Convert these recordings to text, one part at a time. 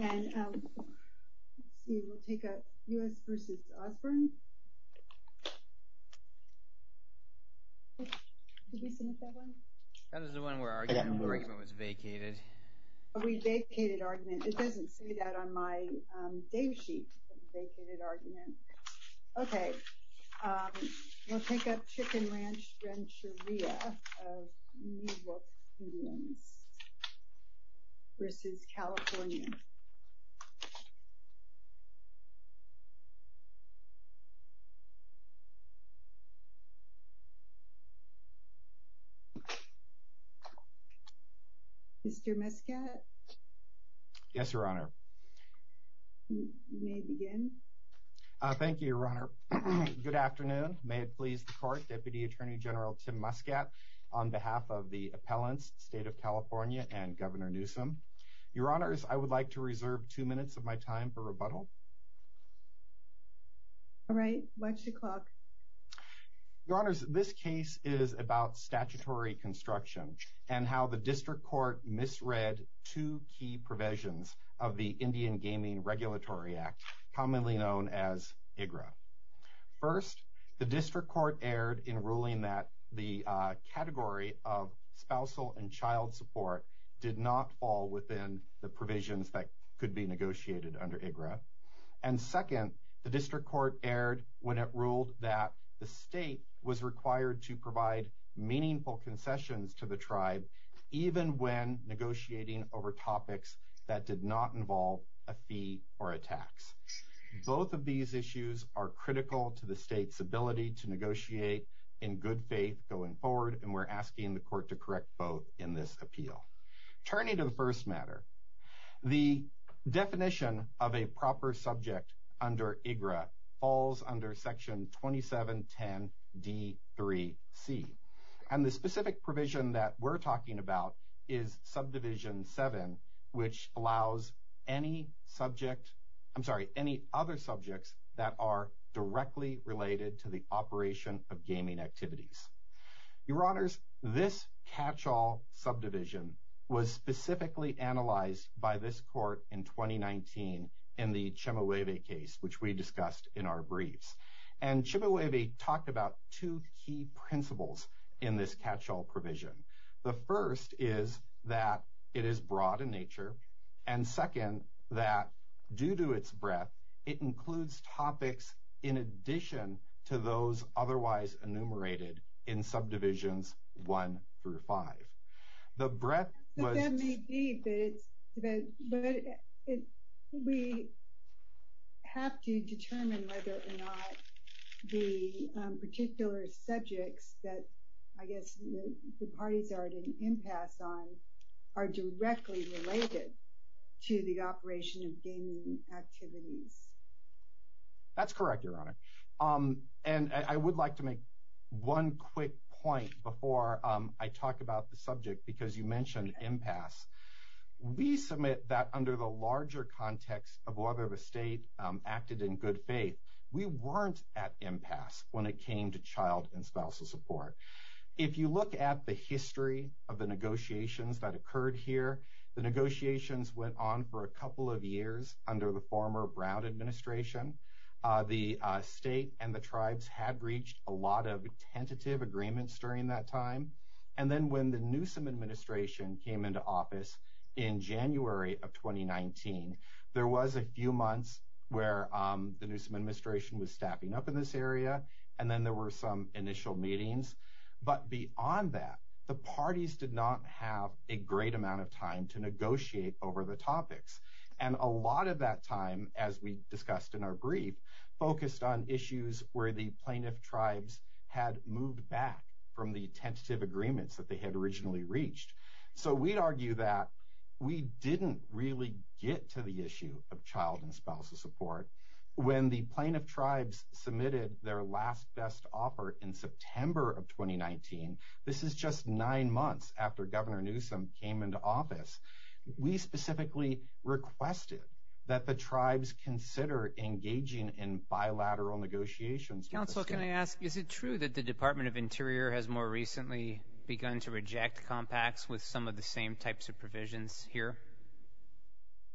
And, let's see, we'll take up U.S. v. Osborne. Did we submit that one? That was the one where our argument was vacated. Oh, we vacated argument. It doesn't say that on my day sheet, vacated argument. Okay, we'll take up Chicken Ranch Rancheria of New York Indians v. California. Mr. Mescat? Yes, Your Honor. You may begin. Thank you, Your Honor. Good afternoon. May it please the Court, Deputy Attorney General Tim Mescat, on behalf of the appellants, State of California and Governor Newsom. Your Honors, I would like to reserve two minutes of my time for rebuttal. All right, what's the clock? Your Honors, this case is about statutory construction and how the district court misread two key provisions of the Indian Gaming Regulatory Act, commonly known as IGRA. First, the district court erred in ruling that the category of spousal and child support did not fall within the provisions that could be negotiated under IGRA. And second, the district court erred when it ruled that the state was required to provide meaningful concessions to the tribe, even when negotiating over topics that did not involve a fee or a tax. Both of these issues are critical to the state's ability to negotiate in good faith going forward, and we're asking the court to correct both in this appeal. Turning to the first matter, the definition of a proper subject under IGRA falls under Section 2710D3C. And the specific provision that we're talking about is Subdivision 7, which allows any other subjects that are directly related to the operation of gaming activities. Your Honors, this catch-all subdivision was specifically analyzed by this court in 2019 in the Chemehueve case, which we discussed in our briefs. And Chemehueve talked about two key principles in this catch-all provision. The first is that it is broad in nature, and second, that due to its breadth, it includes topics in addition to those otherwise enumerated in Subdivisions 1 through 5. But that may be, but we have to determine whether or not the particular subjects that I guess the parties are at an impasse on are directly related to the operation of gaming activities. That's correct, Your Honor. And I would like to make one quick point before I talk about the subject, because you mentioned impasse. We submit that under the larger context of whether the state acted in good faith, we weren't at impasse when it came to child and spousal support. If you look at the history of the negotiations that occurred here, the negotiations went on for a couple of years under the former Brown administration. The state and the tribes had reached a lot of tentative agreements during that time. And then when the Newsom administration came into office in January of 2019, there was a few months where the Newsom administration was staffing up in this area, and then there were some initial meetings. But beyond that, the parties did not have a great amount of time to negotiate over the topics. And a lot of that time, as we discussed in our brief, focused on issues where the plaintiff tribes had moved back from the tentative agreements that they had originally reached. So we'd argue that we didn't really get to the issue of child and spousal support. When the plaintiff tribes submitted their last best offer in September of 2019, this is just nine months after Governor Newsom came into office, we specifically requested that the tribes consider engaging in bilateral negotiations. Counsel, can I ask, is it true that the Department of Interior has more recently begun to reject compacts with some of the same types of provisions here?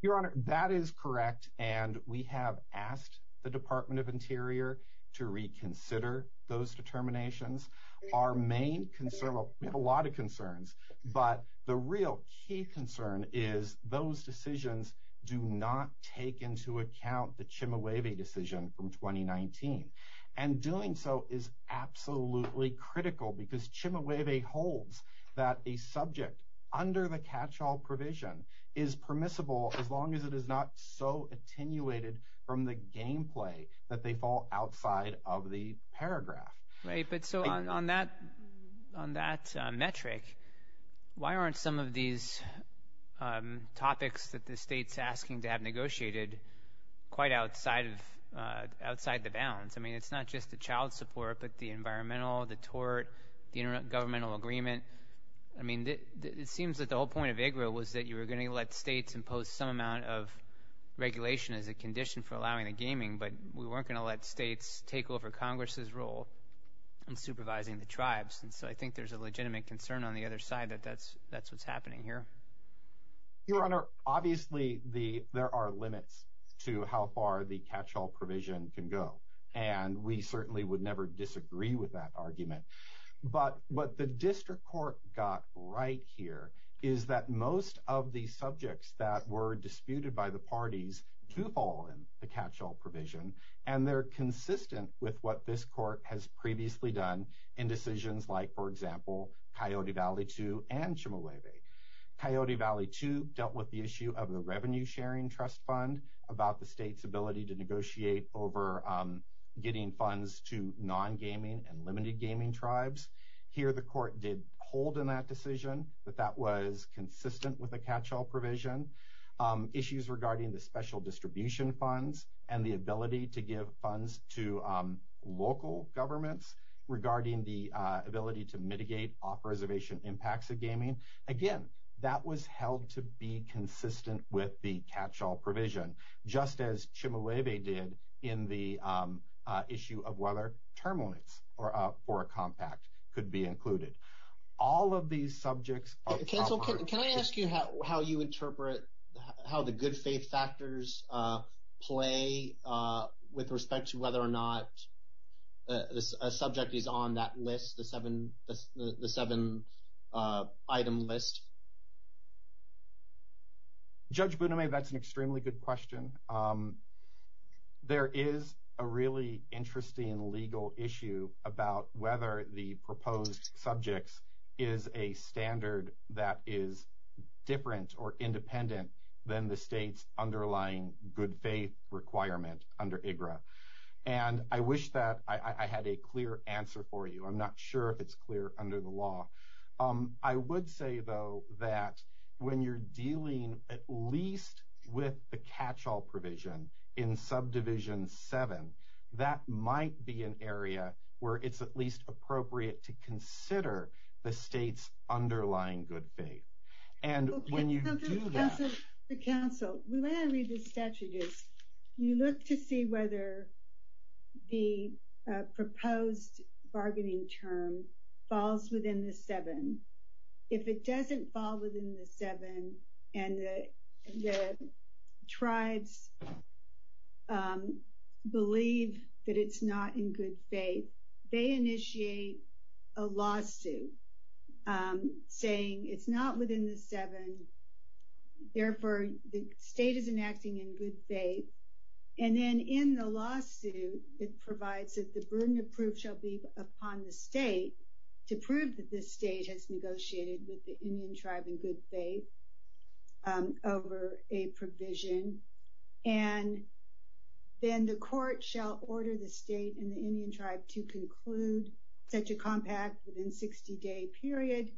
Your Honor, that is correct, and we have asked the Department of Interior to reconsider those determinations. Our main concern, well, we have a lot of concerns, but the real key concern is those decisions do not take into account the Chimueve decision from 2019. And doing so is absolutely critical because Chimueve holds that a subject under the catch-all provision is permissible as long as it is not so attenuated from the gameplay that they fall outside of the paragraph. Right, but so on that metric, why aren't some of these topics that the state is asking to have negotiated quite outside the bounds? I mean, it's not just the child support, but the environmental, the tort, the intergovernmental agreement. I mean, it seems that the whole point of IGRA was that you were going to let states impose some amount of regulation as a condition for allowing the gaming, but we weren't going to let states take over Congress's role in supervising the tribes. And so I think there's a legitimate concern on the other side that that's what's happening here. Your Honor, obviously there are limits to how far the catch-all provision can go, and we certainly would never disagree with that argument. But what the district court got right here is that most of the subjects that were consistent with what this court has previously done in decisions like, for example, Coyote Valley 2 and Chemehueve. Coyote Valley 2 dealt with the issue of the revenue-sharing trust fund, about the state's ability to negotiate over getting funds to non-gaming and limited gaming tribes. Here the court did hold in that decision that that was consistent with the catch-all provision. Issues regarding the special distribution funds and the ability to give funds to local governments regarding the ability to mitigate off-reservation impacts of gaming. Again, that was held to be consistent with the catch-all provision, just as Chemehueve did in the issue of whether term limits for a compact could be included. All of these subjects are covered. Can I ask you how you interpret how the good faith factors play with respect to whether or not a subject is on that list, the seven-item list? Judge Boutime, that's an extremely good question. There is a really interesting legal issue about whether the proposed subjects is a standard that is different or independent than the state's underlying good faith requirement under IGRA. And I wish that I had a clear answer for you. I'm not sure if it's clear under the law. I would say, though, that when you're dealing at least with the catch-all provision in Subdivision 7, that might be an area where it's at least appropriate to consider the state's underlying good faith. When you look at the statute, you look to see whether the proposed bargaining term falls within the seven. If it doesn't fall within the seven and the tribes believe that it's not in good faith, they initiate a lawsuit saying it's not within the seven. Therefore, the state isn't acting in good faith. And then in the lawsuit, it provides that the burden of proof shall be upon the state to prove that the state has negotiated with the Indian tribe in good faith over a provision. And then the court shall order the state and the Indian tribe to conclude such a compact within a 60-day period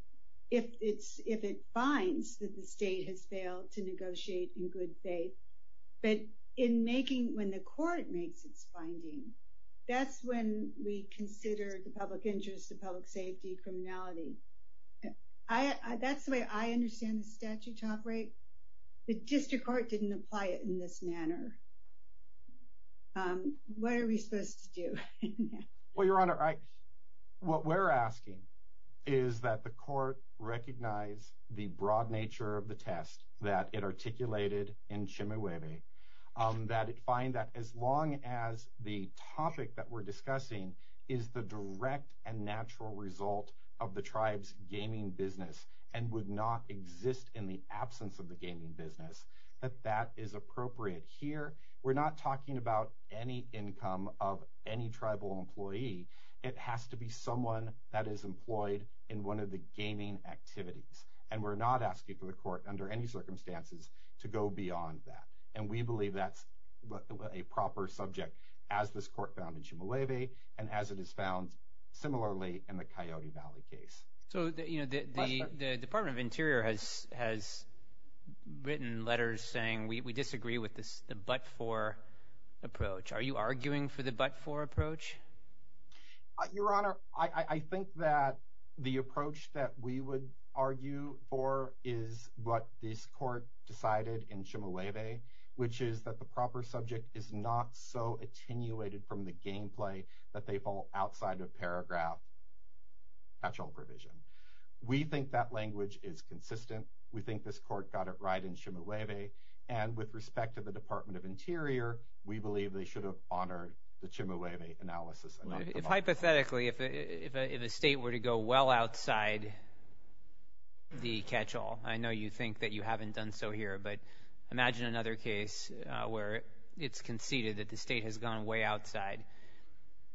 if it finds that the state has failed to negotiate in good faith. But when the court makes its finding, that's when we consider the public interest, the public safety, criminality. That's the way I understand the statute operate. The district court didn't apply it in this manner. What are we supposed to do? Well, Your Honor, what we're asking is that the court recognize the broad nature of the test that it articulated in Chemehueve, that it find that as long as the topic that we're discussing is the direct and natural result of the tribe's gaming business and would not exist in the absence of the gaming business, that that is appropriate here. We're not talking about any income of any tribal employee. It has to be someone that is employed in one of the gaming activities. And we're not asking for the court under any circumstances to go beyond that. And we believe that's a proper subject as this court found in Chemehueve and as it is found similarly in the Coyote Valley case. So the Department of Interior has written letters saying we disagree with the but-for approach. Are you arguing for the but-for approach? Your Honor, I think that the approach that we would argue for is what this court decided in Chemehueve, which is that the proper subject is not so attenuated from the gameplay that they fall outside of paragraph catch-all provision. We think that language is consistent. We think this court got it right in Chemehueve. And with respect to the Department of Interior, we believe they should have honored the Chemehueve analysis. Hypothetically, if a state were to go well outside the catch-all, I know you think that you haven't done so here, but imagine another case where it's conceded that the state has gone way outside.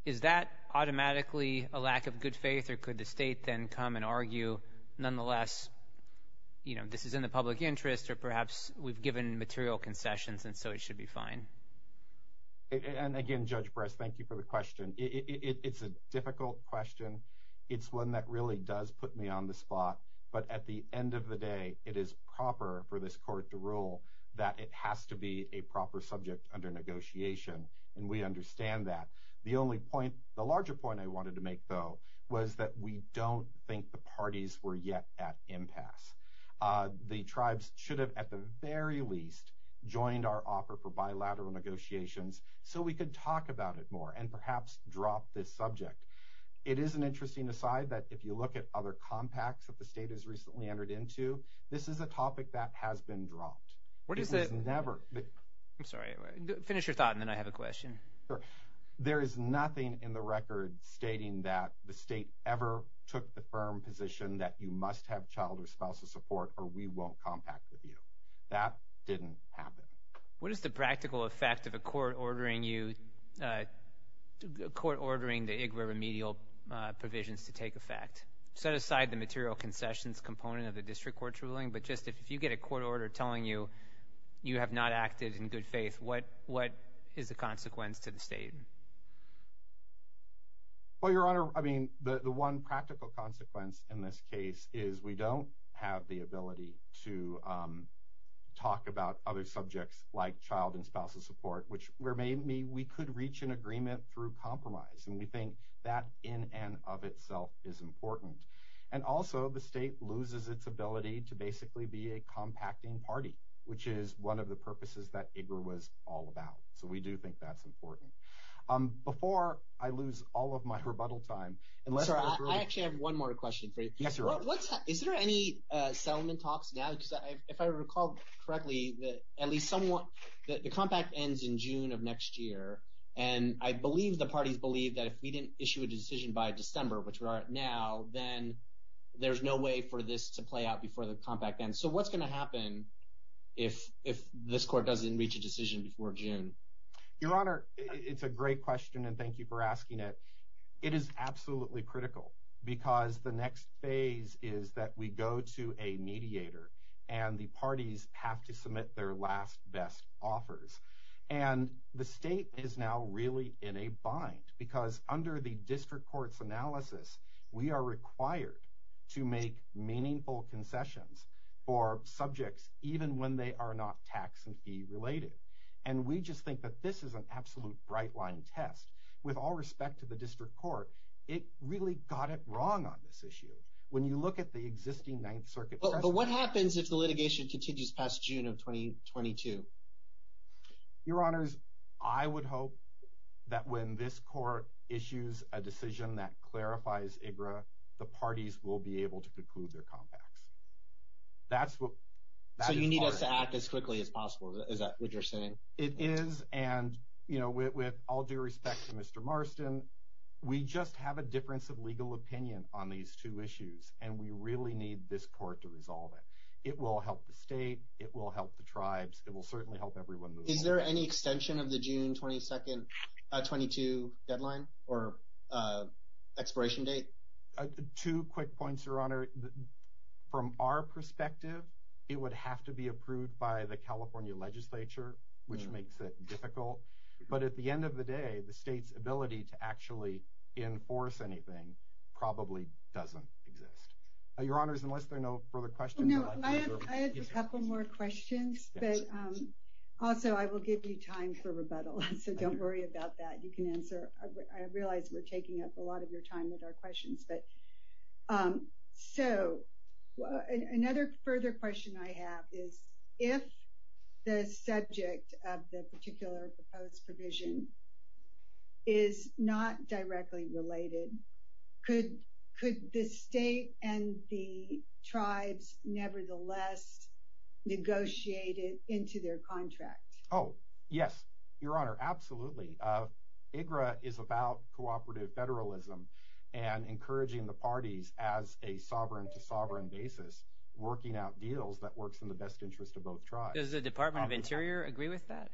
Is that automatically a lack of good faith, or could the state then come and argue, nonetheless, you know, this is in the public interest or perhaps we've given material concessions and so it should be fine? And again, Judge Brest, thank you for the question. It's a difficult question. It's one that really does put me on the spot. But at the end of the day, it is proper for this court to rule that it has to be a proper subject under negotiation. And we understand that. The only point, the larger point I wanted to make, though, was that we don't think the parties were yet at impasse. The tribes should have, at the very least, joined our offer for bilateral negotiations so we could talk about it more and perhaps drop this subject. It is an interesting aside that if you look at other compacts that the state has recently entered into, this is a topic that has been dropped. It was never – I'm sorry. Finish your thought and then I have a question. There is nothing in the record stating that the state ever took the firm position that you must have child or spousal support or we won't compact with you. That didn't happen. What is the practical effect of a court ordering the IGRA remedial provisions to take effect? Set aside the material concessions component of the district court's ruling, but just if you get a court order telling you you have not acted in good faith, what is the consequence to the state? Well, Your Honor, I mean, the one practical consequence in this case is we don't have the ability to talk about other subjects like child and spousal support, which may mean we could reach an agreement through compromise, and we think that in and of itself is important. And also the state loses its ability to basically be a compacting party, which is one of the purposes that IGRA was all about. So we do think that's important. Before I lose all of my rebuttal time… Sir, I actually have one more question for you. Yes, Your Honor. Is there any settlement talks now? Because if I recall correctly, the compact ends in June of next year, and I believe the parties believe that if we didn't issue a decision by December, which we are at now, then there's no way for this to play out before the compact ends. So what's going to happen if this court doesn't reach a decision before June? Your Honor, it's a great question, and thank you for asking it. It is absolutely critical, because the next phase is that we go to a mediator, and the parties have to submit their last best offers. And the state is now really in a bind, because under the district court's analysis, we are required to make meaningful concessions for subjects even when they are not tax and fee related. And we just think that this is an absolute bright-line test. With all respect to the district court, it really got it wrong on this issue. When you look at the existing Ninth Circuit… But what happens if the litigation continues past June of 2022? Your Honors, I would hope that when this court issues a decision that clarifies IGRA, the parties will be able to conclude their compacts. So you need us to act as quickly as possible. Is that what you're saying? It is, and with all due respect to Mr. Marston, we just have a difference of legal opinion on these two issues, and we really need this court to resolve it. It will help the state, it will help the tribes, it will certainly help everyone move forward. Is there any extension of the June 22 deadline or expiration date? Two quick points, Your Honor. From our perspective, it would have to be approved by the California legislature, which makes it difficult. But at the end of the day, the state's ability to actually enforce anything probably doesn't exist. Your Honors, unless there are no further questions… I have a couple more questions, but also I will give you time for rebuttal, so don't worry about that. I realize we're taking up a lot of your time with our questions. Another further question I have is, if the subject of the particular proposed provision is not directly related, could the state and the tribes nevertheless negotiate it into their contract? Oh, yes, Your Honor, absolutely. IGRA is about cooperative federalism and encouraging the parties as a sovereign-to-sovereign basis, working out deals that work in the best interest of both tribes. Does the Department of Interior agree with that?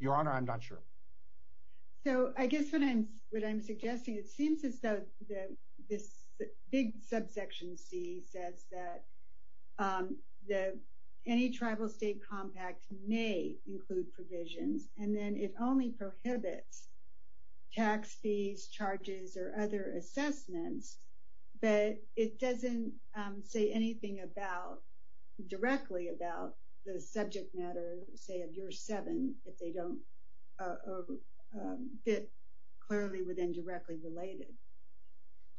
Your Honor, I'm not sure. So, I guess what I'm suggesting, it seems as though this big subsection C says that any tribal state compact may include provisions, and then it only prohibits tax fees, charges, or other assessments, but it doesn't say anything directly about the subject matter, say, of Juris 7, if they don't fit clearly with indirectly related.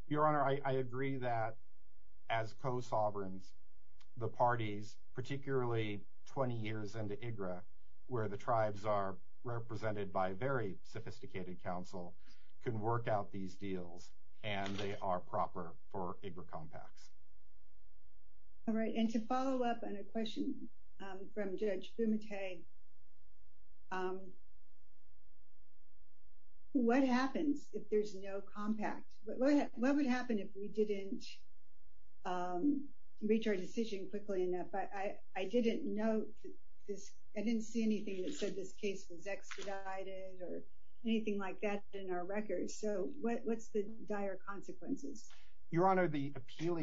Your Honor, I agree that as co-sovereigns, the parties, particularly 20 years into IGRA, where the tribes are represented by very sophisticated counsel, can work out these deals, and they are proper for IGRA compacts. All right, and to follow up on a question from Judge Bumate, what happens if there's no compact? What would happen if we didn't reach our decision quickly enough? But I didn't see anything that said this case was expedited or anything like that in our records. So, what's the dire consequences? Your Honor, the appeal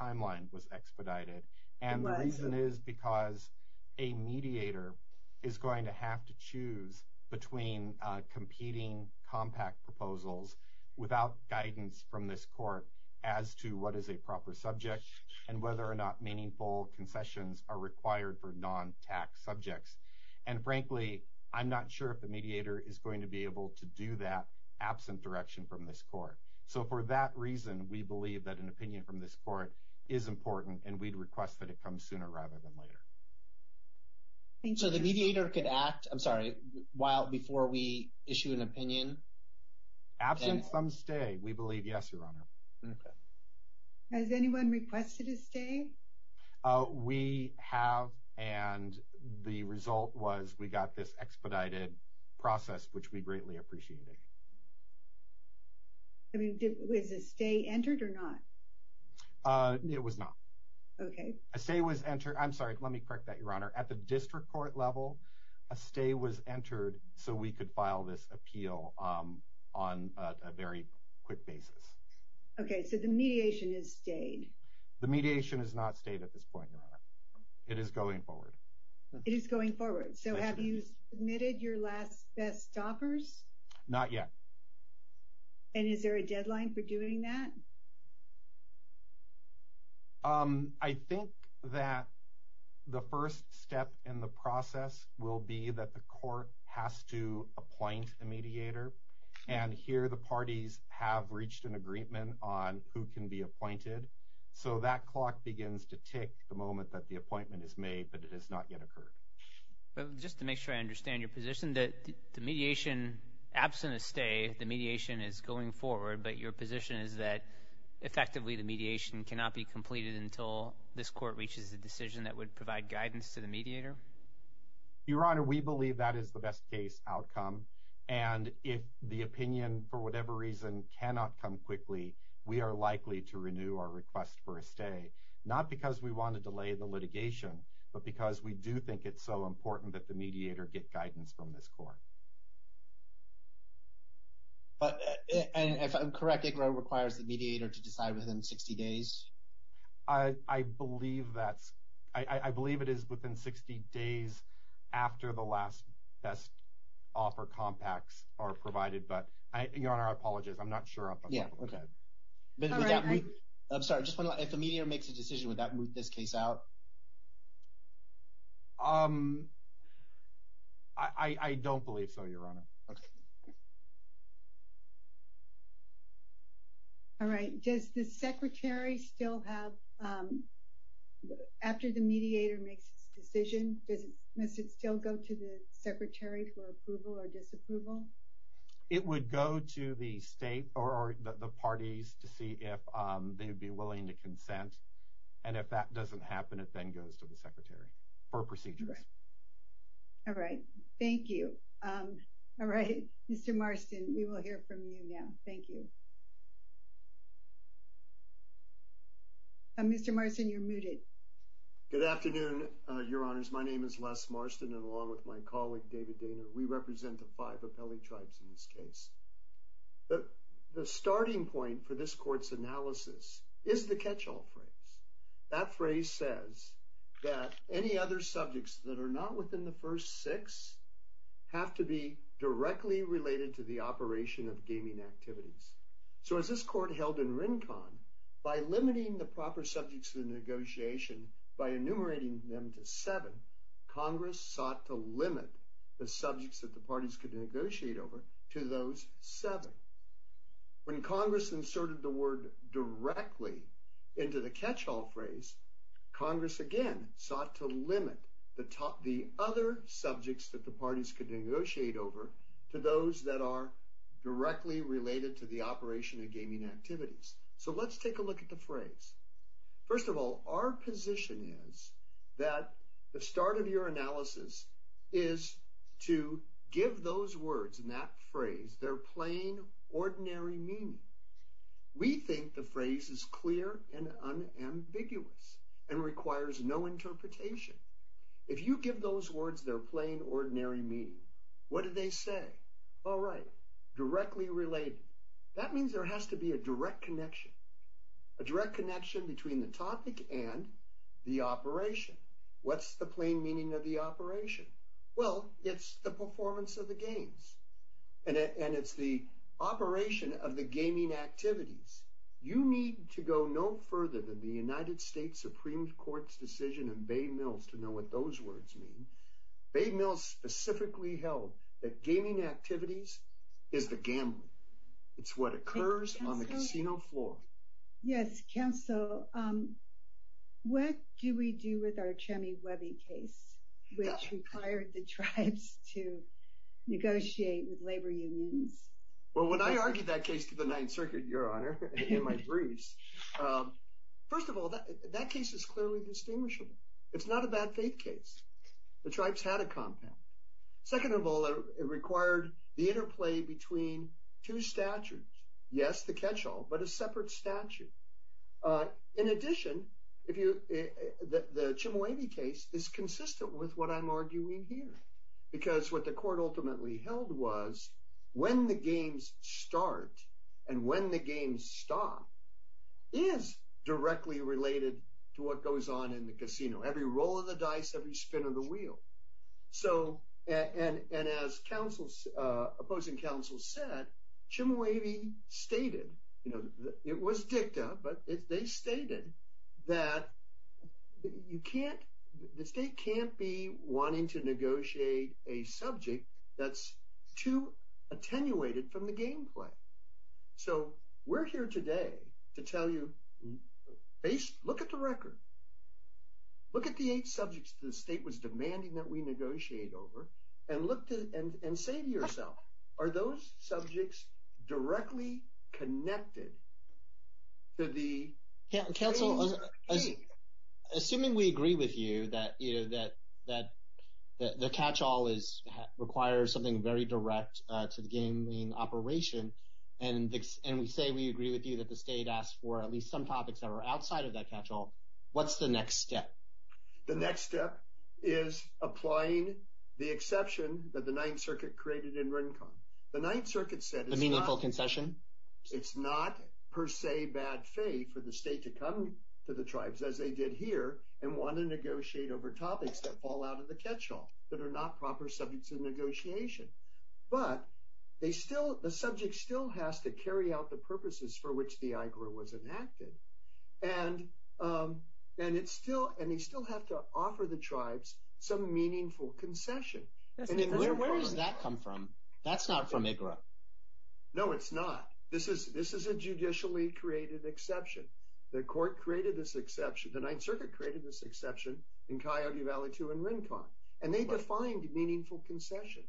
timeline was expedited, and the reason is because a mediator is going to have to choose between competing compact proposals without guidance from this court as to what is a proper subject and whether or not meaningful concessions are required for non-tax subjects. And frankly, I'm not sure if the mediator is going to be able to do that absent direction from this court. So, for that reason, we believe that an opinion from this court is important, and we'd request that it come sooner rather than later. So, the mediator could act, I'm sorry, while before we issue an opinion? Absent some stay, we believe yes, Your Honor. Okay. Has anyone requested a stay? We have, and the result was we got this expedited process, which we greatly appreciated. I mean, was a stay entered or not? It was not. Okay. A stay was entered, I'm sorry, let me correct that, Your Honor. At the district court level, a stay was entered so we could file this appeal on a very quick basis. Okay. So, the mediation has stayed? The mediation has not stayed at this point, Your Honor. It is going forward. It is going forward. So, have you submitted your last best offers? Not yet. And is there a deadline for doing that? I think that the first step in the process will be that the court has to appoint a mediator, and here the parties have reached an agreement on who can be appointed. So, that clock begins to tick the moment that the appointment is made, but it has not yet occurred. Just to make sure I understand your position, that the mediation, absent a stay, the mediation is going forward, but your position is that effectively the mediation cannot be completed until this court reaches a decision that would provide guidance to the mediator? Your Honor, we believe that is the best case outcome, and if the opinion, for whatever reason, cannot come quickly, we are likely to renew our request for a stay. Not because we want to delay the litigation, but because we do think it's so important that the mediator get guidance from this court. But, and if I'm correct, ICRA requires the mediator to decide within 60 days? I believe that's, I believe it is within 60 days after the last best offer compacts are provided, but Your Honor, I apologize, I'm not sure. Yeah, okay. I'm sorry, if a mediator makes a decision, would that move this case out? Um, I don't believe so, Your Honor. All right, does the secretary still have, after the mediator makes a decision, does it still go to the secretary for approval or disapproval? It would go to the state or the parties to see if they would be willing to consent, and if that doesn't happen, it then goes to the secretary for procedures. All right, thank you. All right, Mr. Marston, we will hear from you now. Thank you. Good afternoon, Your Honors. My name is Les Marston, and along with my colleague, David Dana, we represent the five appellee tribes in this case. The starting point for this court's analysis is the catch-all phrase. That phrase says that any other subjects that are not within the first six have to be directly related to the operation of gaming activities. So as this court held in Rincon, by limiting the proper subjects of the negotiation, by enumerating them to seven, Congress sought to limit the subjects that the parties could negotiate over to those seven. When Congress inserted the word directly into the catch-all phrase, Congress again sought to limit the other subjects that the parties could negotiate over to those that are directly related to the operation of gaming activities. So let's take a look at the phrase. First of all, our position is that the start of your analysis is to give those words in that phrase their plain, ordinary meaning. We think the phrase is clear and unambiguous and requires no interpretation. If you give those words their plain, ordinary meaning, what do they say? All right, directly related. That means there has to be a direct connection. A direct connection between the topic and the operation. What's the plain meaning of the operation? Well, it's the performance of the games. And it's the operation of the gaming activities. You need to go no further than the United States Supreme Court's decision in Bay Mills to know what those words mean. Bay Mills specifically held that gaming activities is the gambling. It's what occurs on the casino floor. Yes, Counsel, what do we do with our Chemi-Webby case, which required the tribes to negotiate with labor unions? Well, when I argued that case to the Ninth Circuit, Your Honor, in my briefs, first of all, that case is clearly distinguishable. It's not a bad faith case. The tribes had a compound. Second of all, it required the interplay between two statutes. Yes, the catch-all, but a separate statute. In addition, the Chemi-Webby case is consistent with what I'm arguing here. Because what the court ultimately held was when the games start and when the games stop is directly related to what goes on in the casino. Every roll of the dice, every spin of the wheel. And as opposing counsel said, Chemi-Webby stated, it was dicta, but they stated that the state can't be wanting to negotiate a subject that's too attenuated from the gameplay. So we're here today to tell you, look at the record. Look at the eight subjects the state was demanding that we negotiate over. And look and say to yourself, are those subjects directly connected to the... Counsel, assuming we agree with you that, you know, that the catch-all requires something very direct to the gaming operation. And we say we agree with you that the state asked for at least some topics that were outside of that catch-all. What's the next step? The next step is applying the exception that the Ninth Circuit created in Rincon. The Ninth Circuit said it's not per se bad faith for the state to come to the tribes as they did here and want to negotiate over topics that fall out of the catch-all, that are not proper subjects of negotiation. But the subject still has to carry out the purposes for which the IGRA was enacted. And they still have to offer the tribes some meaningful concession. Where does that come from? That's not from IGRA. No, it's not. This is a judicially created exception. The court created this exception. The Ninth Circuit created this exception in Coyote Valley 2 in Rincon. And they defined meaningful concession.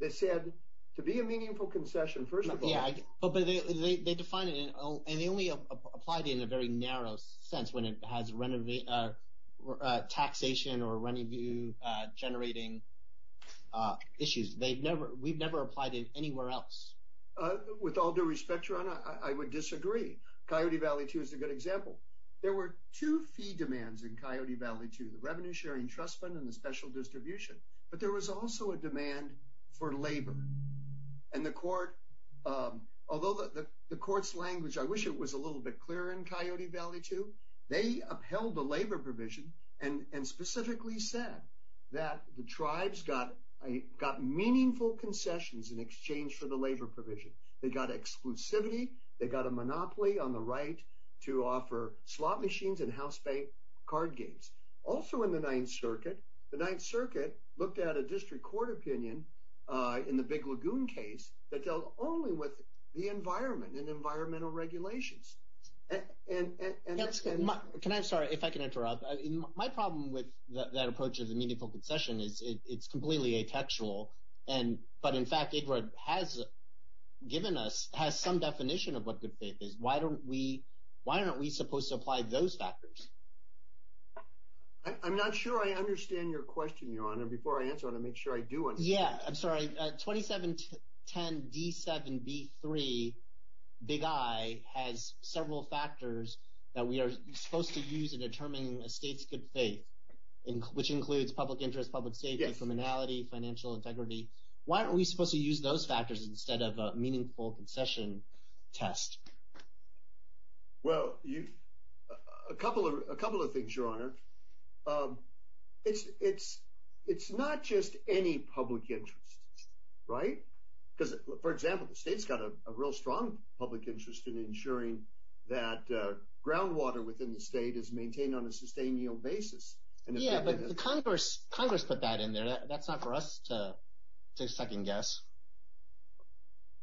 They said, to be a meaningful concession, first of all… Yeah, but they defined it, and they only applied it in a very narrow sense when it has taxation or renew generating issues. We've never applied it anywhere else. With all due respect, Rana, I would disagree. Coyote Valley 2 is a good example. There were two fee demands in Coyote Valley 2, the revenue-sharing trust fund and the special distribution. But there was also a demand for labor. And the court, although the court's language, I wish it was a little bit clearer in Coyote Valley 2, they upheld the labor provision and specifically said that the tribes got meaningful concessions in exchange for the labor provision. They got exclusivity, they got a monopoly on the right to offer slot machines and house pay card games. Also in the Ninth Circuit, the Ninth Circuit looked at a district court opinion in the Big Lagoon case that dealt only with the environment and environmental regulations. And that's… Can I? I'm sorry if I can interrupt. My problem with that approach of the meaningful concession is it's completely atextual. But in fact, Edward has given us, has some definition of what good faith is. Why aren't we supposed to apply those factors? I'm not sure I understand your question, Your Honor. Before I answer it, I want to make sure I do understand. Yeah, I'm sorry. 2710D7B3, Big I, has several factors that we are supposed to use to determine a state's good faith, which includes public interest, public safety, criminality, financial integrity. Why aren't we supposed to use those factors instead of a meaningful concession test? Well, a couple of things, Your Honor. It's not just any public interest, right? Because, for example, the state's got a real strong public interest in ensuring that groundwater within the state is maintained on a sustainable basis. Yeah, but Congress put that in there. That's not for us to second guess.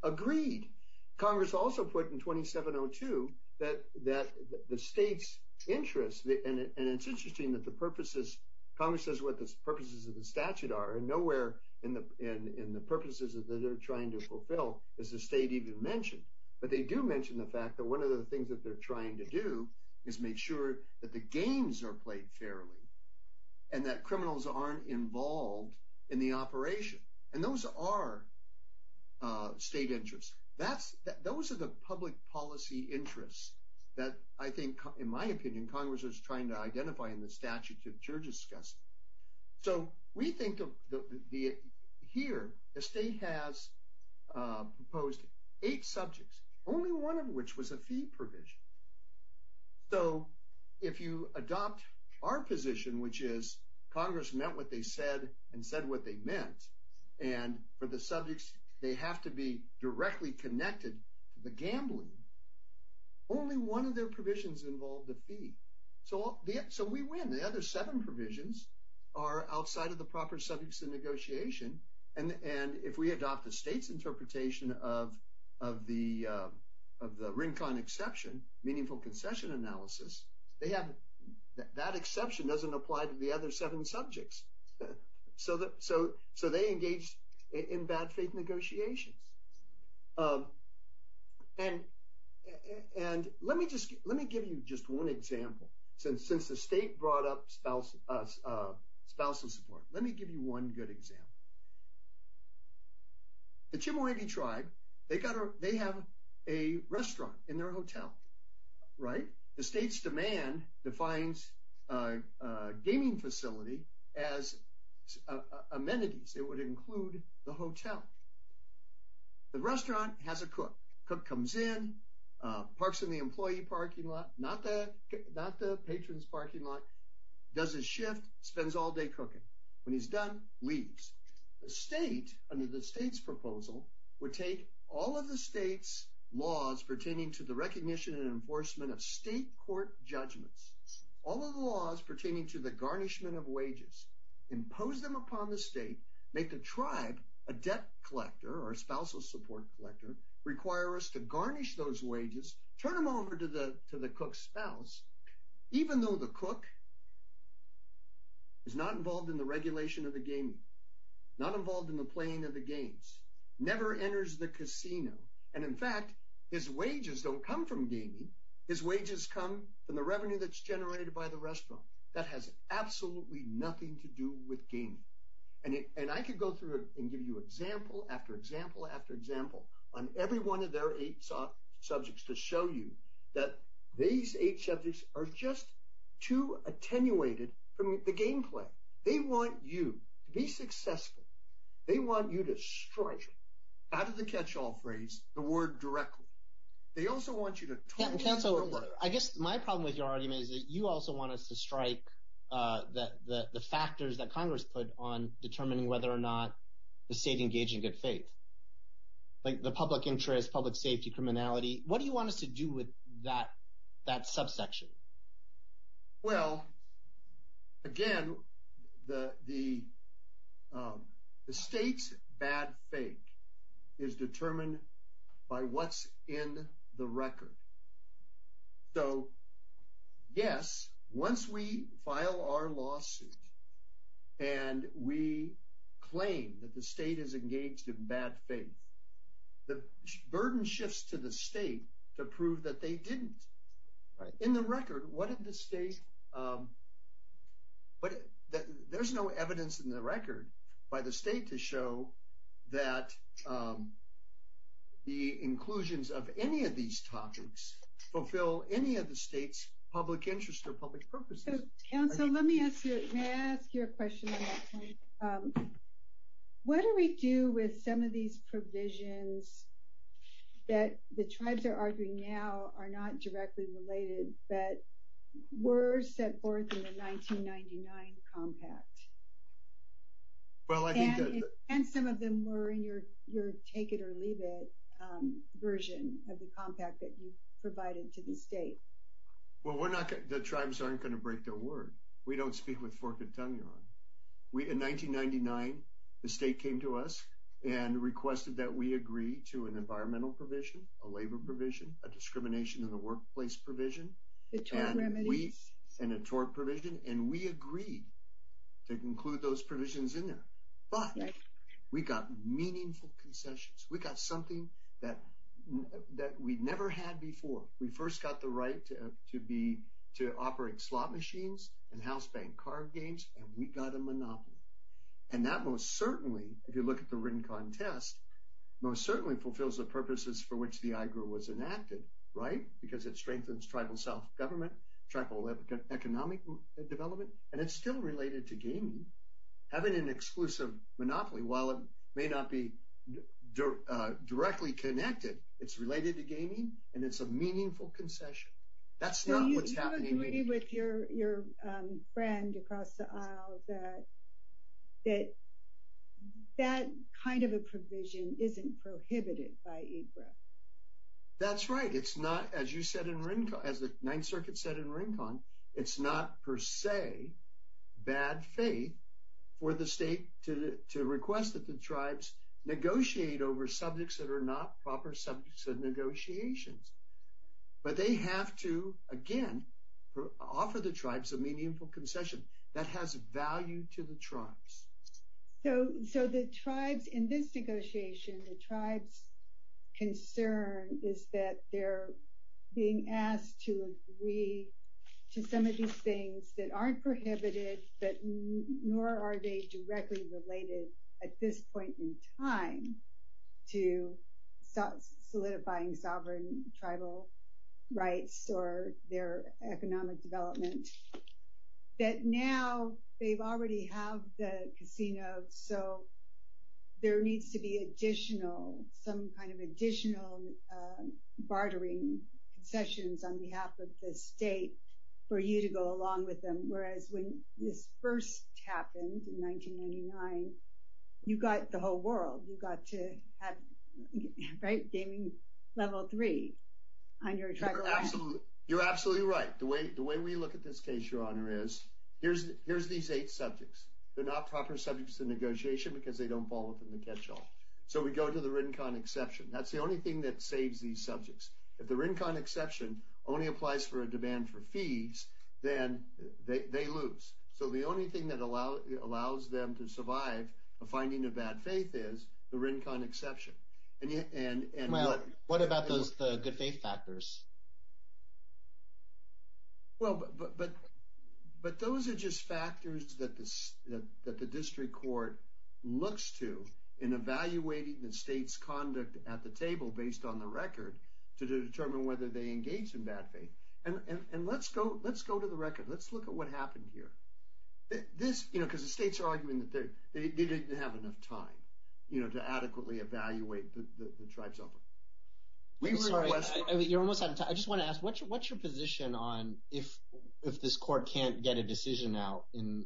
Agreed. Congress also put in 2702 that the state's interest, and it's interesting that the purposes, Congress says what the purposes of the statute are, and nowhere in the purposes that they're trying to fulfill is the state even mentioned. But they do mention the fact that one of the things that they're trying to do is make sure that the games are played fairly and that criminals aren't involved in the operation. And those are state interests. Those are the public policy interests that I think, in my opinion, Congress is trying to identify in the statute that you're discussing. So we think of, here, the state has proposed eight subjects, only one of which was a fee provision. So if you adopt our position, which is Congress meant what they said and said what they meant, and for the subjects they have to be directly connected to the gambling, only one of their provisions involved a fee. So we win. The other seven provisions are outside of the proper subjects of negotiation. And if we adopt the state's interpretation of the RINCON exception, meaningful concession analysis, that exception doesn't apply to the other seven subjects. So they engage in bad faith negotiations. And let me give you just one example. Since the state brought up spousal support, let me give you one good example. The Chemehuevi tribe, they have a restaurant in their hotel, right? The state's demand defines a gaming facility as amenities. It would include the hotel. The restaurant has a cook. Cook comes in, parks in the employee parking lot, not the patron's parking lot, does his shift, spends all day cooking. When he's done, leaves. The state, under the state's proposal, would take all of the state's laws pertaining to the recognition and enforcement of state court judgments, all of the laws pertaining to the garnishment of wages, impose them upon the state, make the tribe a debt collector or a spousal support collector, require us to garnish those wages, turn them over to the cook's spouse, even though the cook is not involved in the regulation of the gaming, not involved in the playing of the games, never enters the casino. And in fact, his wages don't come from gaming. His wages come from the revenue that's generated by the restaurant. That has absolutely nothing to do with gaming. And I could go through and give you example after example after example on every one of their eight subjects to show you that these eight subjects are just too attenuated from the gameplay. They want you to be successful. They want you to strike, out of the catch-all phrase, the word directly. They also want you to... I guess my problem with your argument is that you also want us to strike the factors that Congress put on determining whether or not the state engaged in good faith. Like the public interest, public safety, criminality. What do you want us to do with that subsection? Well, again, the state's bad faith is determined by what's in the record. So, yes, once we file our lawsuit and we claim that the state is engaged in bad faith, the burden shifts to the state to prove that they didn't. In the record, what did the state... There's no evidence in the record by the state to show that the inclusions of any of these topics fulfill any of the state's public interest or public purposes. So, let me ask you a question on that point. What do we do with some of these provisions that the tribes are arguing now are not directly related but were set forth in the 1999 compact? And some of them were in your take-it-or-leave-it version of the compact that you provided to the state. Well, the tribes aren't going to break their word. We don't speak with forked tongue, Yvonne. In 1999, the state came to us and requested that we agree to an environmental provision, a labor provision, a discrimination in the workplace provision, and a tort provision. And we agreed to include those provisions in there. But we got meaningful concessions. We got something that we never had before. We first got the right to operate slot machines and house bank card games, and we got a monopoly. And that most certainly, if you look at the written contest, most certainly fulfills the purposes for which the IGRA was enacted, right? Because it strengthens tribal self-government, tribal economic development, and it's still related to gaming. Having an exclusive monopoly, while it may not be directly connected, it's related to gaming, and it's a meaningful concession. That's not what's happening. Do you agree with your friend across the aisle that that kind of a provision isn't prohibited by IGRA? That's right. As the Ninth Circuit said in Rincon, it's not per se bad faith for the state to request that the tribes negotiate over subjects that are not proper subjects of negotiations. But they have to, again, offer the tribes a meaningful concession. That has value to the tribes. So the tribes in this negotiation, the tribes' concern is that they're being asked to agree to some of these things that aren't prohibited, but nor are they directly related at this point in time to solidifying sovereign tribal rights or their economic development. That now they already have the casino, so there needs to be additional, some kind of additional bartering concessions on behalf of the state for you to go along with them. Whereas when this first happened in 1999, you got the whole world. You got to have gaming level three on your track record. You're absolutely right. The way we look at this case, Your Honor, is here's these eight subjects. They're not proper subjects of negotiation because they don't fall within the catch-all. So we go to the Rincon exception. That's the only thing that saves these subjects. If the Rincon exception only applies for a demand for fees, then they lose. So the only thing that allows them to survive a finding of bad faith is the Rincon exception. Well, what about the good faith factors? Well, but those are just factors that the district court looks to in evaluating the state's conduct at the table based on the record to determine whether they engage in bad faith. And let's go to the record. Let's look at what happened here. This, you know, because the states are arguing that they didn't have enough time, you know, to adequately evaluate the tribe's offer. You're almost out of time. I just want to ask, what's your position on if this court can't get a decision out in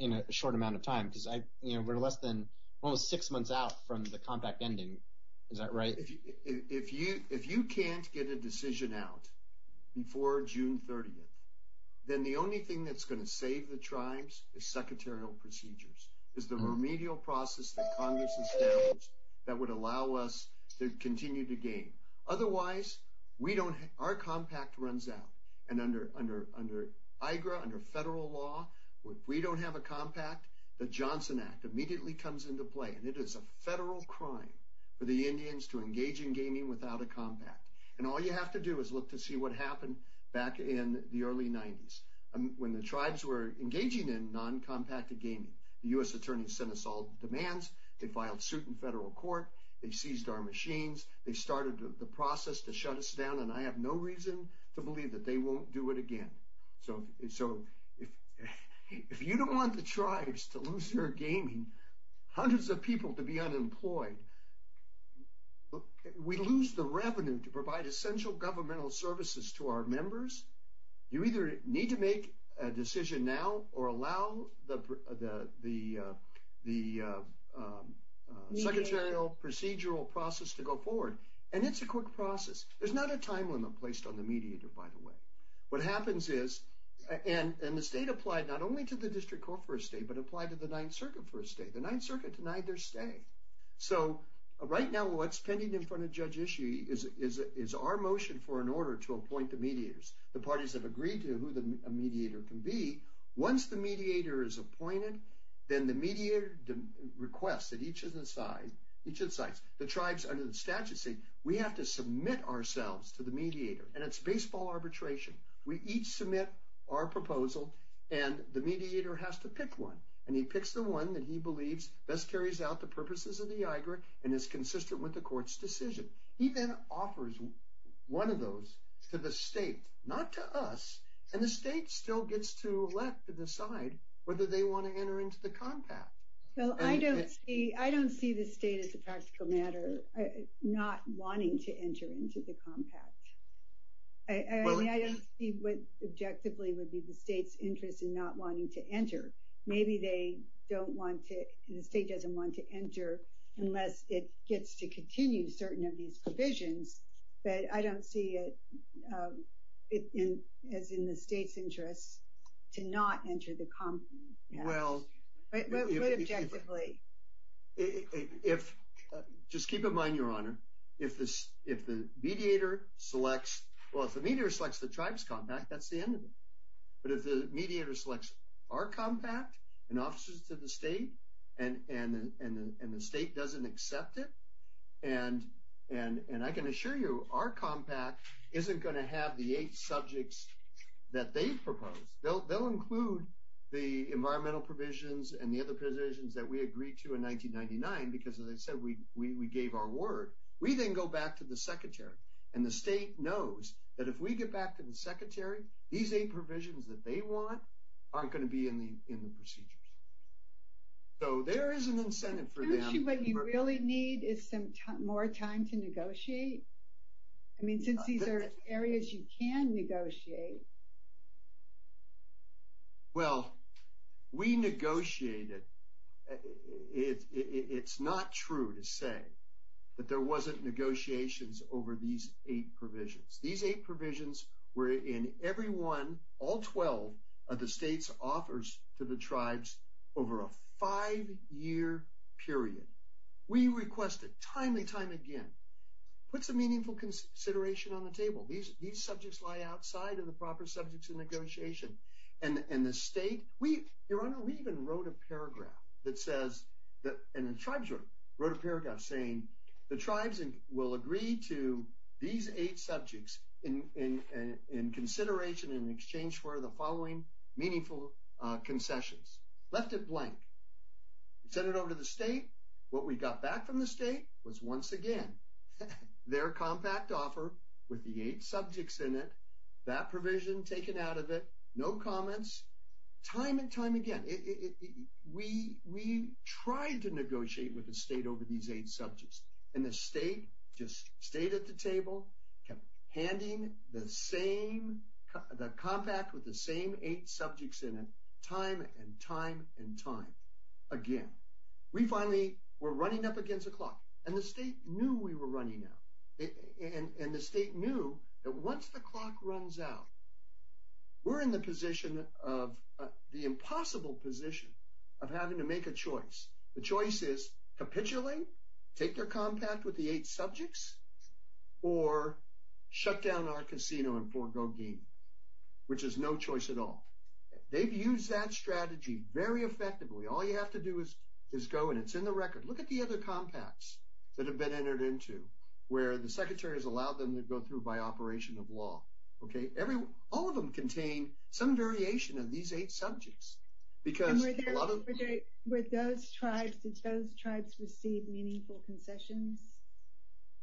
a short amount of time? Because, you know, we're less than almost six months out from the compact ending. Is that right? If you can't get a decision out before June 30th, then the only thing that's going to save the tribes is secretarial procedures. It's the remedial process that Congress established that would allow us to continue to game. Otherwise, our compact runs out. And under IGRA, under federal law, if we don't have a compact, the Johnson Act immediately comes into play. And it is a federal crime for the Indians to engage in gaming without a compact. And all you have to do is look to see what happened back in the early 90s when the tribes were engaging in non-compacted gaming. The U.S. attorneys sent us all demands. They filed suit in federal court. They seized our machines. They started the process to shut us down. And I have no reason to believe that they won't do it again. So, if you don't want the tribes to lose their gaming, hundreds of people to be unemployed, we lose the revenue to provide essential governmental services to our members. You either need to make a decision now or allow the secretarial procedural process to go forward. And it's a quick process. There's not a time limit placed on the mediator, by the way. What happens is, and the state applied not only to the district court for a stay, but applied to the Ninth Circuit for a stay. The Ninth Circuit denied their stay. So, right now what's pending in front of Judge Ishii is our motion for an order to appoint the mediators. The parties have agreed to who the mediator can be. Once the mediator is appointed, then the mediator requests that each of the tribes under the statute say, we have to submit ourselves to the mediator. And it's baseball arbitration. We each submit our proposal and the mediator has to pick one. And he picks the one that he believes best carries out the purposes of the IGRA and is consistent with the court's decision. He then offers one of those to the state, not to us. And the state still gets to elect and decide whether they want to enter into the compact. Well, I don't see the state as a practical matter not wanting to enter into the compact. I mean, I don't see what objectively would be the state's interest in not wanting to enter. Maybe the state doesn't want to enter unless it gets to continue certain of these provisions. But I don't see it as in the state's interest to not enter the compact. But what objectively? Just keep in mind, Your Honor, if the mediator selects the tribe's compact, that's the end of it. But if the mediator selects our compact and offers it to the state and the state doesn't accept it, and I can assure you, our compact isn't going to have the eight subjects that they've proposed. They'll include the environmental provisions and the other provisions that we agreed to in 1999 because, as I said, we gave our word. We then go back to the secretary. And the state knows that if we get back to the secretary, these eight provisions that they want aren't going to be in the procedures. So there is an incentive for them. Don't you really need more time to negotiate? I mean, since these are areas you can negotiate. Well, we negotiated. It's not true to say that there wasn't negotiations over these eight provisions. These eight provisions were in every one, all 12 of the state's offers to the tribes over a five-year period. We requested time and time again, put some meaningful consideration on the table. These subjects lie outside of the proper subjects of negotiation. And the state, Your Honor, we even wrote a paragraph that says, and the tribes wrote a paragraph saying, the tribes will agree to these eight subjects in consideration in exchange for the following meaningful concessions. Left it blank. Sent it over to the state. What we got back from the state was, once again, their compact offer with the eight subjects in it, that provision taken out of it, no comments. Time and time again, we tried to negotiate with the state over these eight subjects. And the state just stayed at the table, sending the compact with the same eight subjects in it, time and time and time again. We finally were running up against the clock. And the state knew we were running out. And the state knew that once the clock runs out, we're in the impossible position of having to make a choice. The choice is capitulate, take their compact with the eight subjects, or shut down our casino and forego gain, which is no choice at all. They've used that strategy very effectively. All you have to do is go, and it's in the record. Look at the other compacts that have been entered into, where the secretary has allowed them to go through by operation of law. All of them contain some variation of these eight subjects. And were those tribes, did those tribes receive meaningful concessions?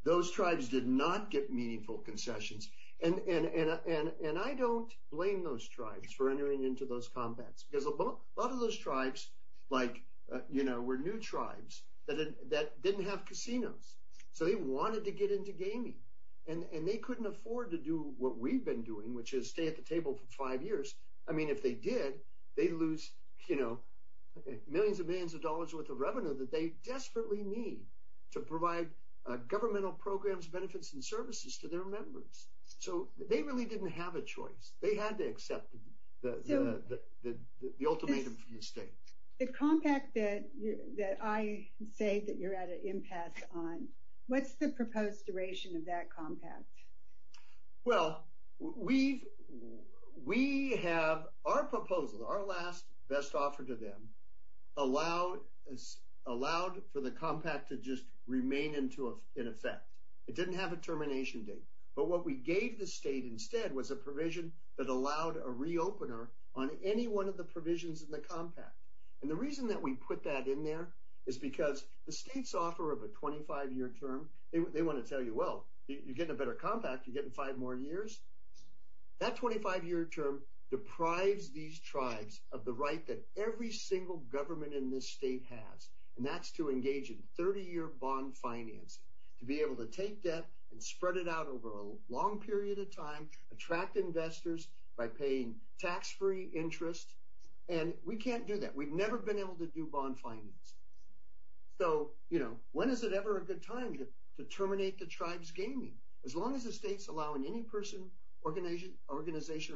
Those tribes did not get meaningful concessions. And I don't blame those tribes for entering into those compacts. Because a lot of those tribes, like, you know, were new tribes that didn't have casinos. So they wanted to get into gaming. And they couldn't afford to do what we've been doing, which is stay at the table for five years. I mean, if they did, they'd lose, you know, millions and millions of dollars worth of revenue that they desperately need to provide governmental programs, benefits, and services to their members. So they really didn't have a choice. They had to accept the ultimatum from the state. The compact that I say that you're at an impasse on, what's the proposed duration of that compact? Well, we have our proposal, our last best offer to them, allowed for the compact to just remain in effect. It didn't have a termination date. But what we gave the state instead was a provision that allowed a re-opener on any one of the provisions in the compact. And the reason that we put that in there is because the state's offer of a 25-year term, they want to tell you, well, you're getting a better compact, you're getting five more years. That 25-year term deprives these tribes of the right that every single government in this state has, and that's to engage in 30-year bond financing, to be able to take debt and spread it out over a long period of time, attract investors by paying tax-free interest. And we can't do that. We've never been able to do bond financing. So, you know, when is it ever a good time to terminate the tribes' gaming? As long as the state's allowing any person, organization, or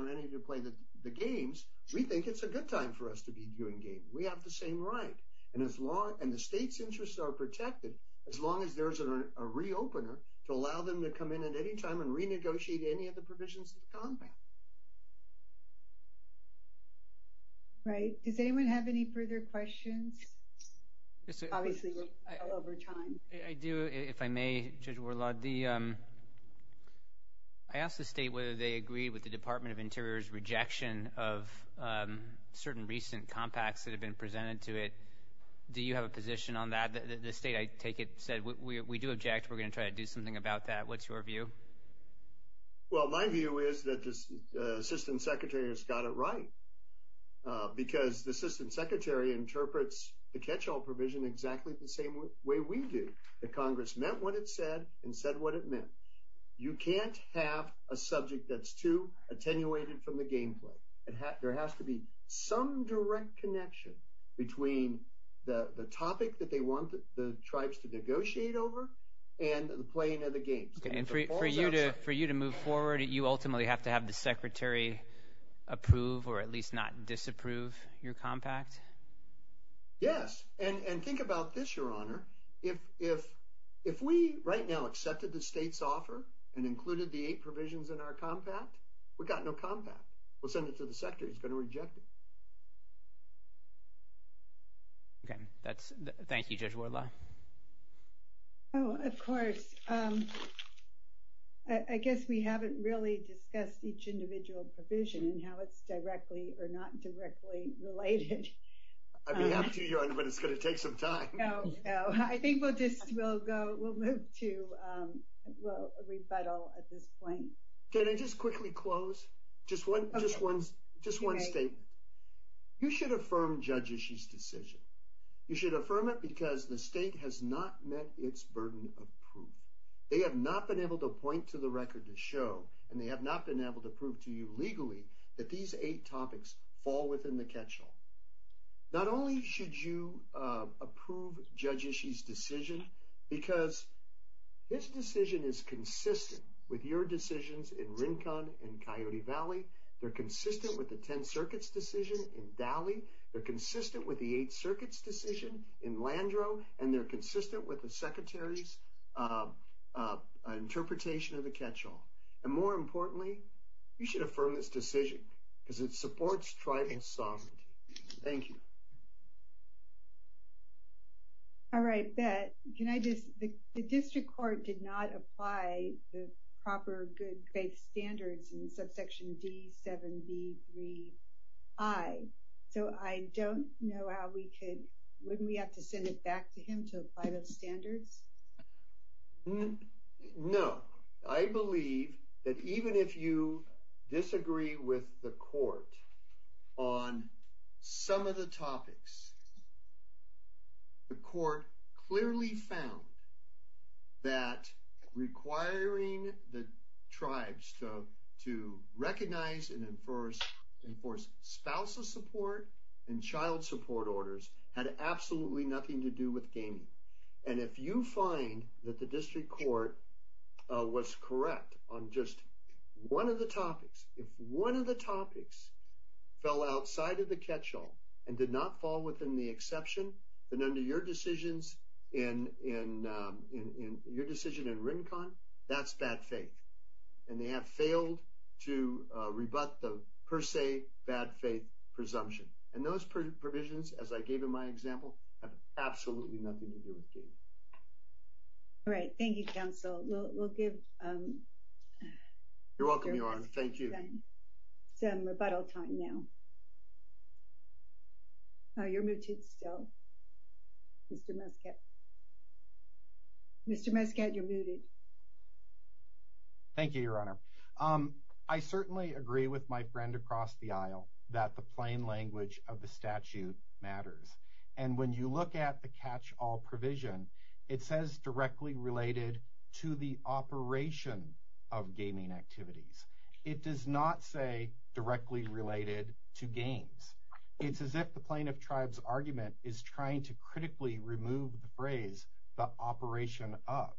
entity to play the games, we think it's a good time for us to be doing games. We have the same right. And the state's interests are protected as long as there's a re-opener to allow them to come in at any time and renegotiate any of the provisions of the compact. Right. Does anyone have any further questions? Obviously, we're over time. I do, if I may, Judge Warlaw. I asked the state whether they agreed with the Department of Interior's rejection of certain recent compacts that have been presented to it. Do you have a position on that? The state, I take it, said, we do object, we're going to try to do something about that. What's your view? Well, my view is that the Assistant Secretary has got it right because the Assistant Secretary interprets the catch-all provision exactly the same way we do, that Congress meant what it said and said what it meant. You can't have a subject that's too attenuated from the gameplay. There has to be some direct connection between the topic that they want the tribes to negotiate over and the playing of the games. And for you to move forward, you ultimately have to have the Secretary approve or at least not disapprove your compact? Yes. And think about this, Your Honor. If we right now accepted the state's offer and included the eight provisions in our compact, we've got no compact. We'll send it to the Secretary. He's going to reject it. Okay. Thank you, Judge Wardlaw. Oh, of course. I guess we haven't really discussed each individual provision and how it's directly or not directly related. I'd be happy to, Your Honor, but it's going to take some time. I think we'll move to a rebuttal at this point. Can I just quickly close? Just one statement. You should affirm Judge Ishii's decision. You should affirm it because the state has not met its burden of proof. They have not been able to point to the record to show, and they have not been able to prove to you legally, that these eight topics fall within the catchall. Not only should you approve Judge Ishii's decision, because his decision is consistent with your decisions in Rincon and Coyote Valley. They're consistent with the Ten Circuits decision in Dalley. They're consistent with the Eight Circuits decision in Landrow, and they're consistent with the Secretary's interpretation of the catchall. And more importantly, you should affirm this decision because it supports tribal sovereignty. Thank you. All right, Bett. The district court did not apply the proper good faith standards in subsection D7B3I. So I don't know how we could, wouldn't we have to send it back to him to apply those standards? No. I believe that even if you disagree with the court on some of the topics, the court clearly found that requiring the tribes to recognize and enforce spousal support and child support orders had absolutely nothing to do with gaming. And if you find that the district court was correct on just one of the topics, if one of the topics fell outside of the catchall and did not fall within the exception, then under your decisions in Rincon, that's bad faith. And they have failed to rebut the per se bad faith presumption. And those provisions, as I gave in my example, have absolutely nothing to do with gaming. All right, thank you, counsel. We'll give... You're welcome, Your Honor. We'll give you some time, some rebuttal time now. Oh, you're muted still. Mr. Muscat. Mr. Muscat, you're muted. Thank you, Your Honor. I certainly agree with my friend across the aisle that the plain language of the statute matters. And when you look at the catchall provision, it says directly related to the operation of gaming activities. It does not say directly related to games. It's as if the plaintiff tribe's argument is trying to critically remove the phrase, the operation of.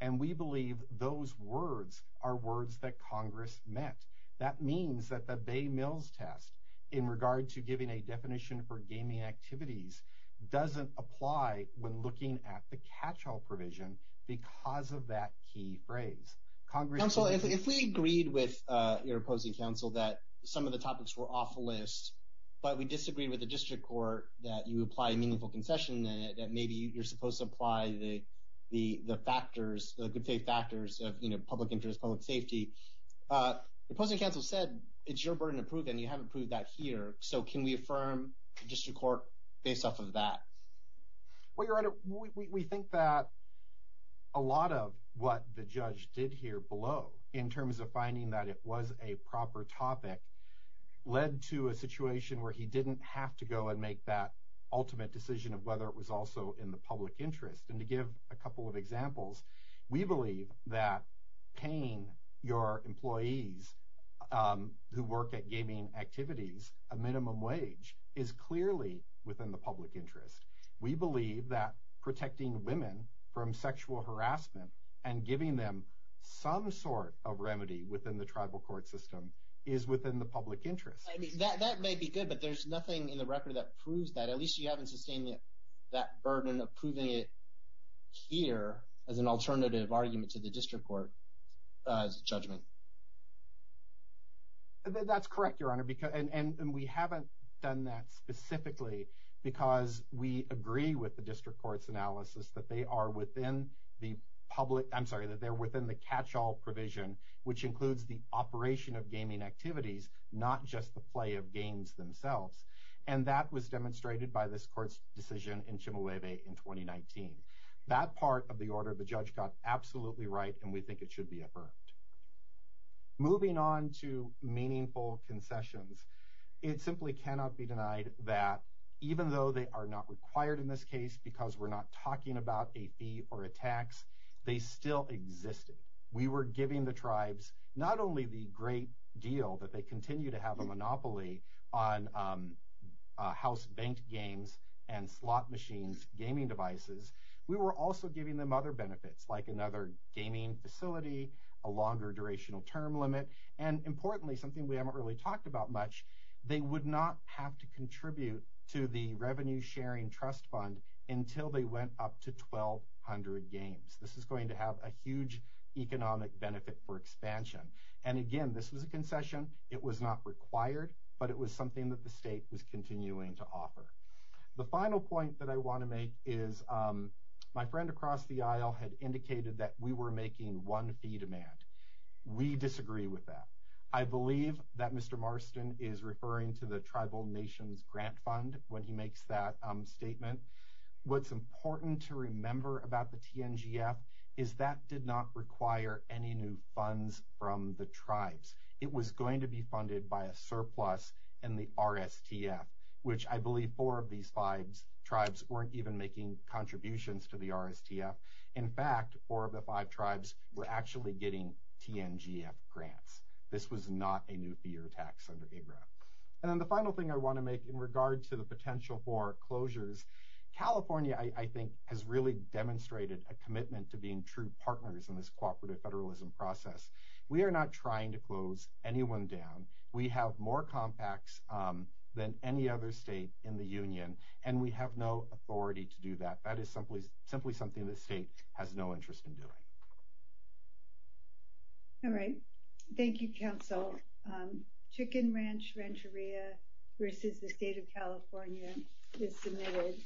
And we believe those words are words that Congress meant. That means that the Bay Mills test in regard to giving a definition for gaming activities doesn't apply when looking at the catchall provision because of that key phrase. Counsel, if we agreed with your opposing counsel that some of the topics were off the list, but we disagree with the district court that you apply a meaningful concession that maybe you're supposed to apply the factors, the good faith factors of public interest, public safety. The opposing counsel said it's your burden to prove and you haven't proved that here. So can we affirm the district court based off of that? Well, Your Honor, we think that a lot of what the judge did here below in terms of finding that it was a proper topic led to a situation where he didn't have to go and make that ultimate decision of whether it was also in the public interest. And to give a couple of examples, we believe that paying your employees who work at gaming activities a minimum wage is clearly within the public interest. We believe that protecting women from sexual harassment and giving them some sort of remedy within the tribal court system is within the public interest. That may be good, but there's nothing in the record that proves that. At least you haven't sustained that burden of proving it here as an alternative argument to the district court's judgment. That's correct, Your Honor. And we haven't done that specifically because we agree with the district court's analysis that they are within the catch-all provision, which includes the operation of gaming activities, not just the play of games themselves. And that was demonstrated by this court's decision in Chemehueve in 2019. That part of the order the judge got absolutely right, and we think it should be affirmed. Moving on to meaningful concessions, it simply cannot be denied that, even though they are not required in this case because we're not talking about AP or a tax, they still existed. We were giving the tribes not only the great deal that they continue to have a monopoly on house-banked games and slot machines, gaming devices, we were also giving them other benefits like another gaming facility, a longer durational term limit, and importantly, something we haven't really talked about much, they would not have to contribute to the revenue-sharing trust fund until they went up to 1,200 games. This is going to have a huge economic benefit for expansion. And again, this was a concession. It was not required, but it was something that the state was continuing to offer. The final point that I want to make is, my friend across the aisle had indicated that we were making one fee demand. We disagree with that. I believe that Mr. Marston is referring to the Tribal Nations Grant Fund when he makes that statement. What's important to remember about the TNGF is that did not require any new funds from the tribes. It was going to be funded by a surplus in the RSTF, which I believe four of these five tribes weren't even making contributions to the RSTF. In fact, four of the five tribes were actually getting TNGF grants. This was not a new fee or tax under IGRA. And then the final thing I want to make in regard to the potential for closures, which I think has really demonstrated a commitment to being true partners in this cooperative federalism process. We are not trying to close anyone down. We have more compacts than any other state in the union, and we have no authority to do that. That is simply something the state has no interest in doing. All right. Thank you, Council. Chicken Ranch Rancheria versus the State of California is submitted.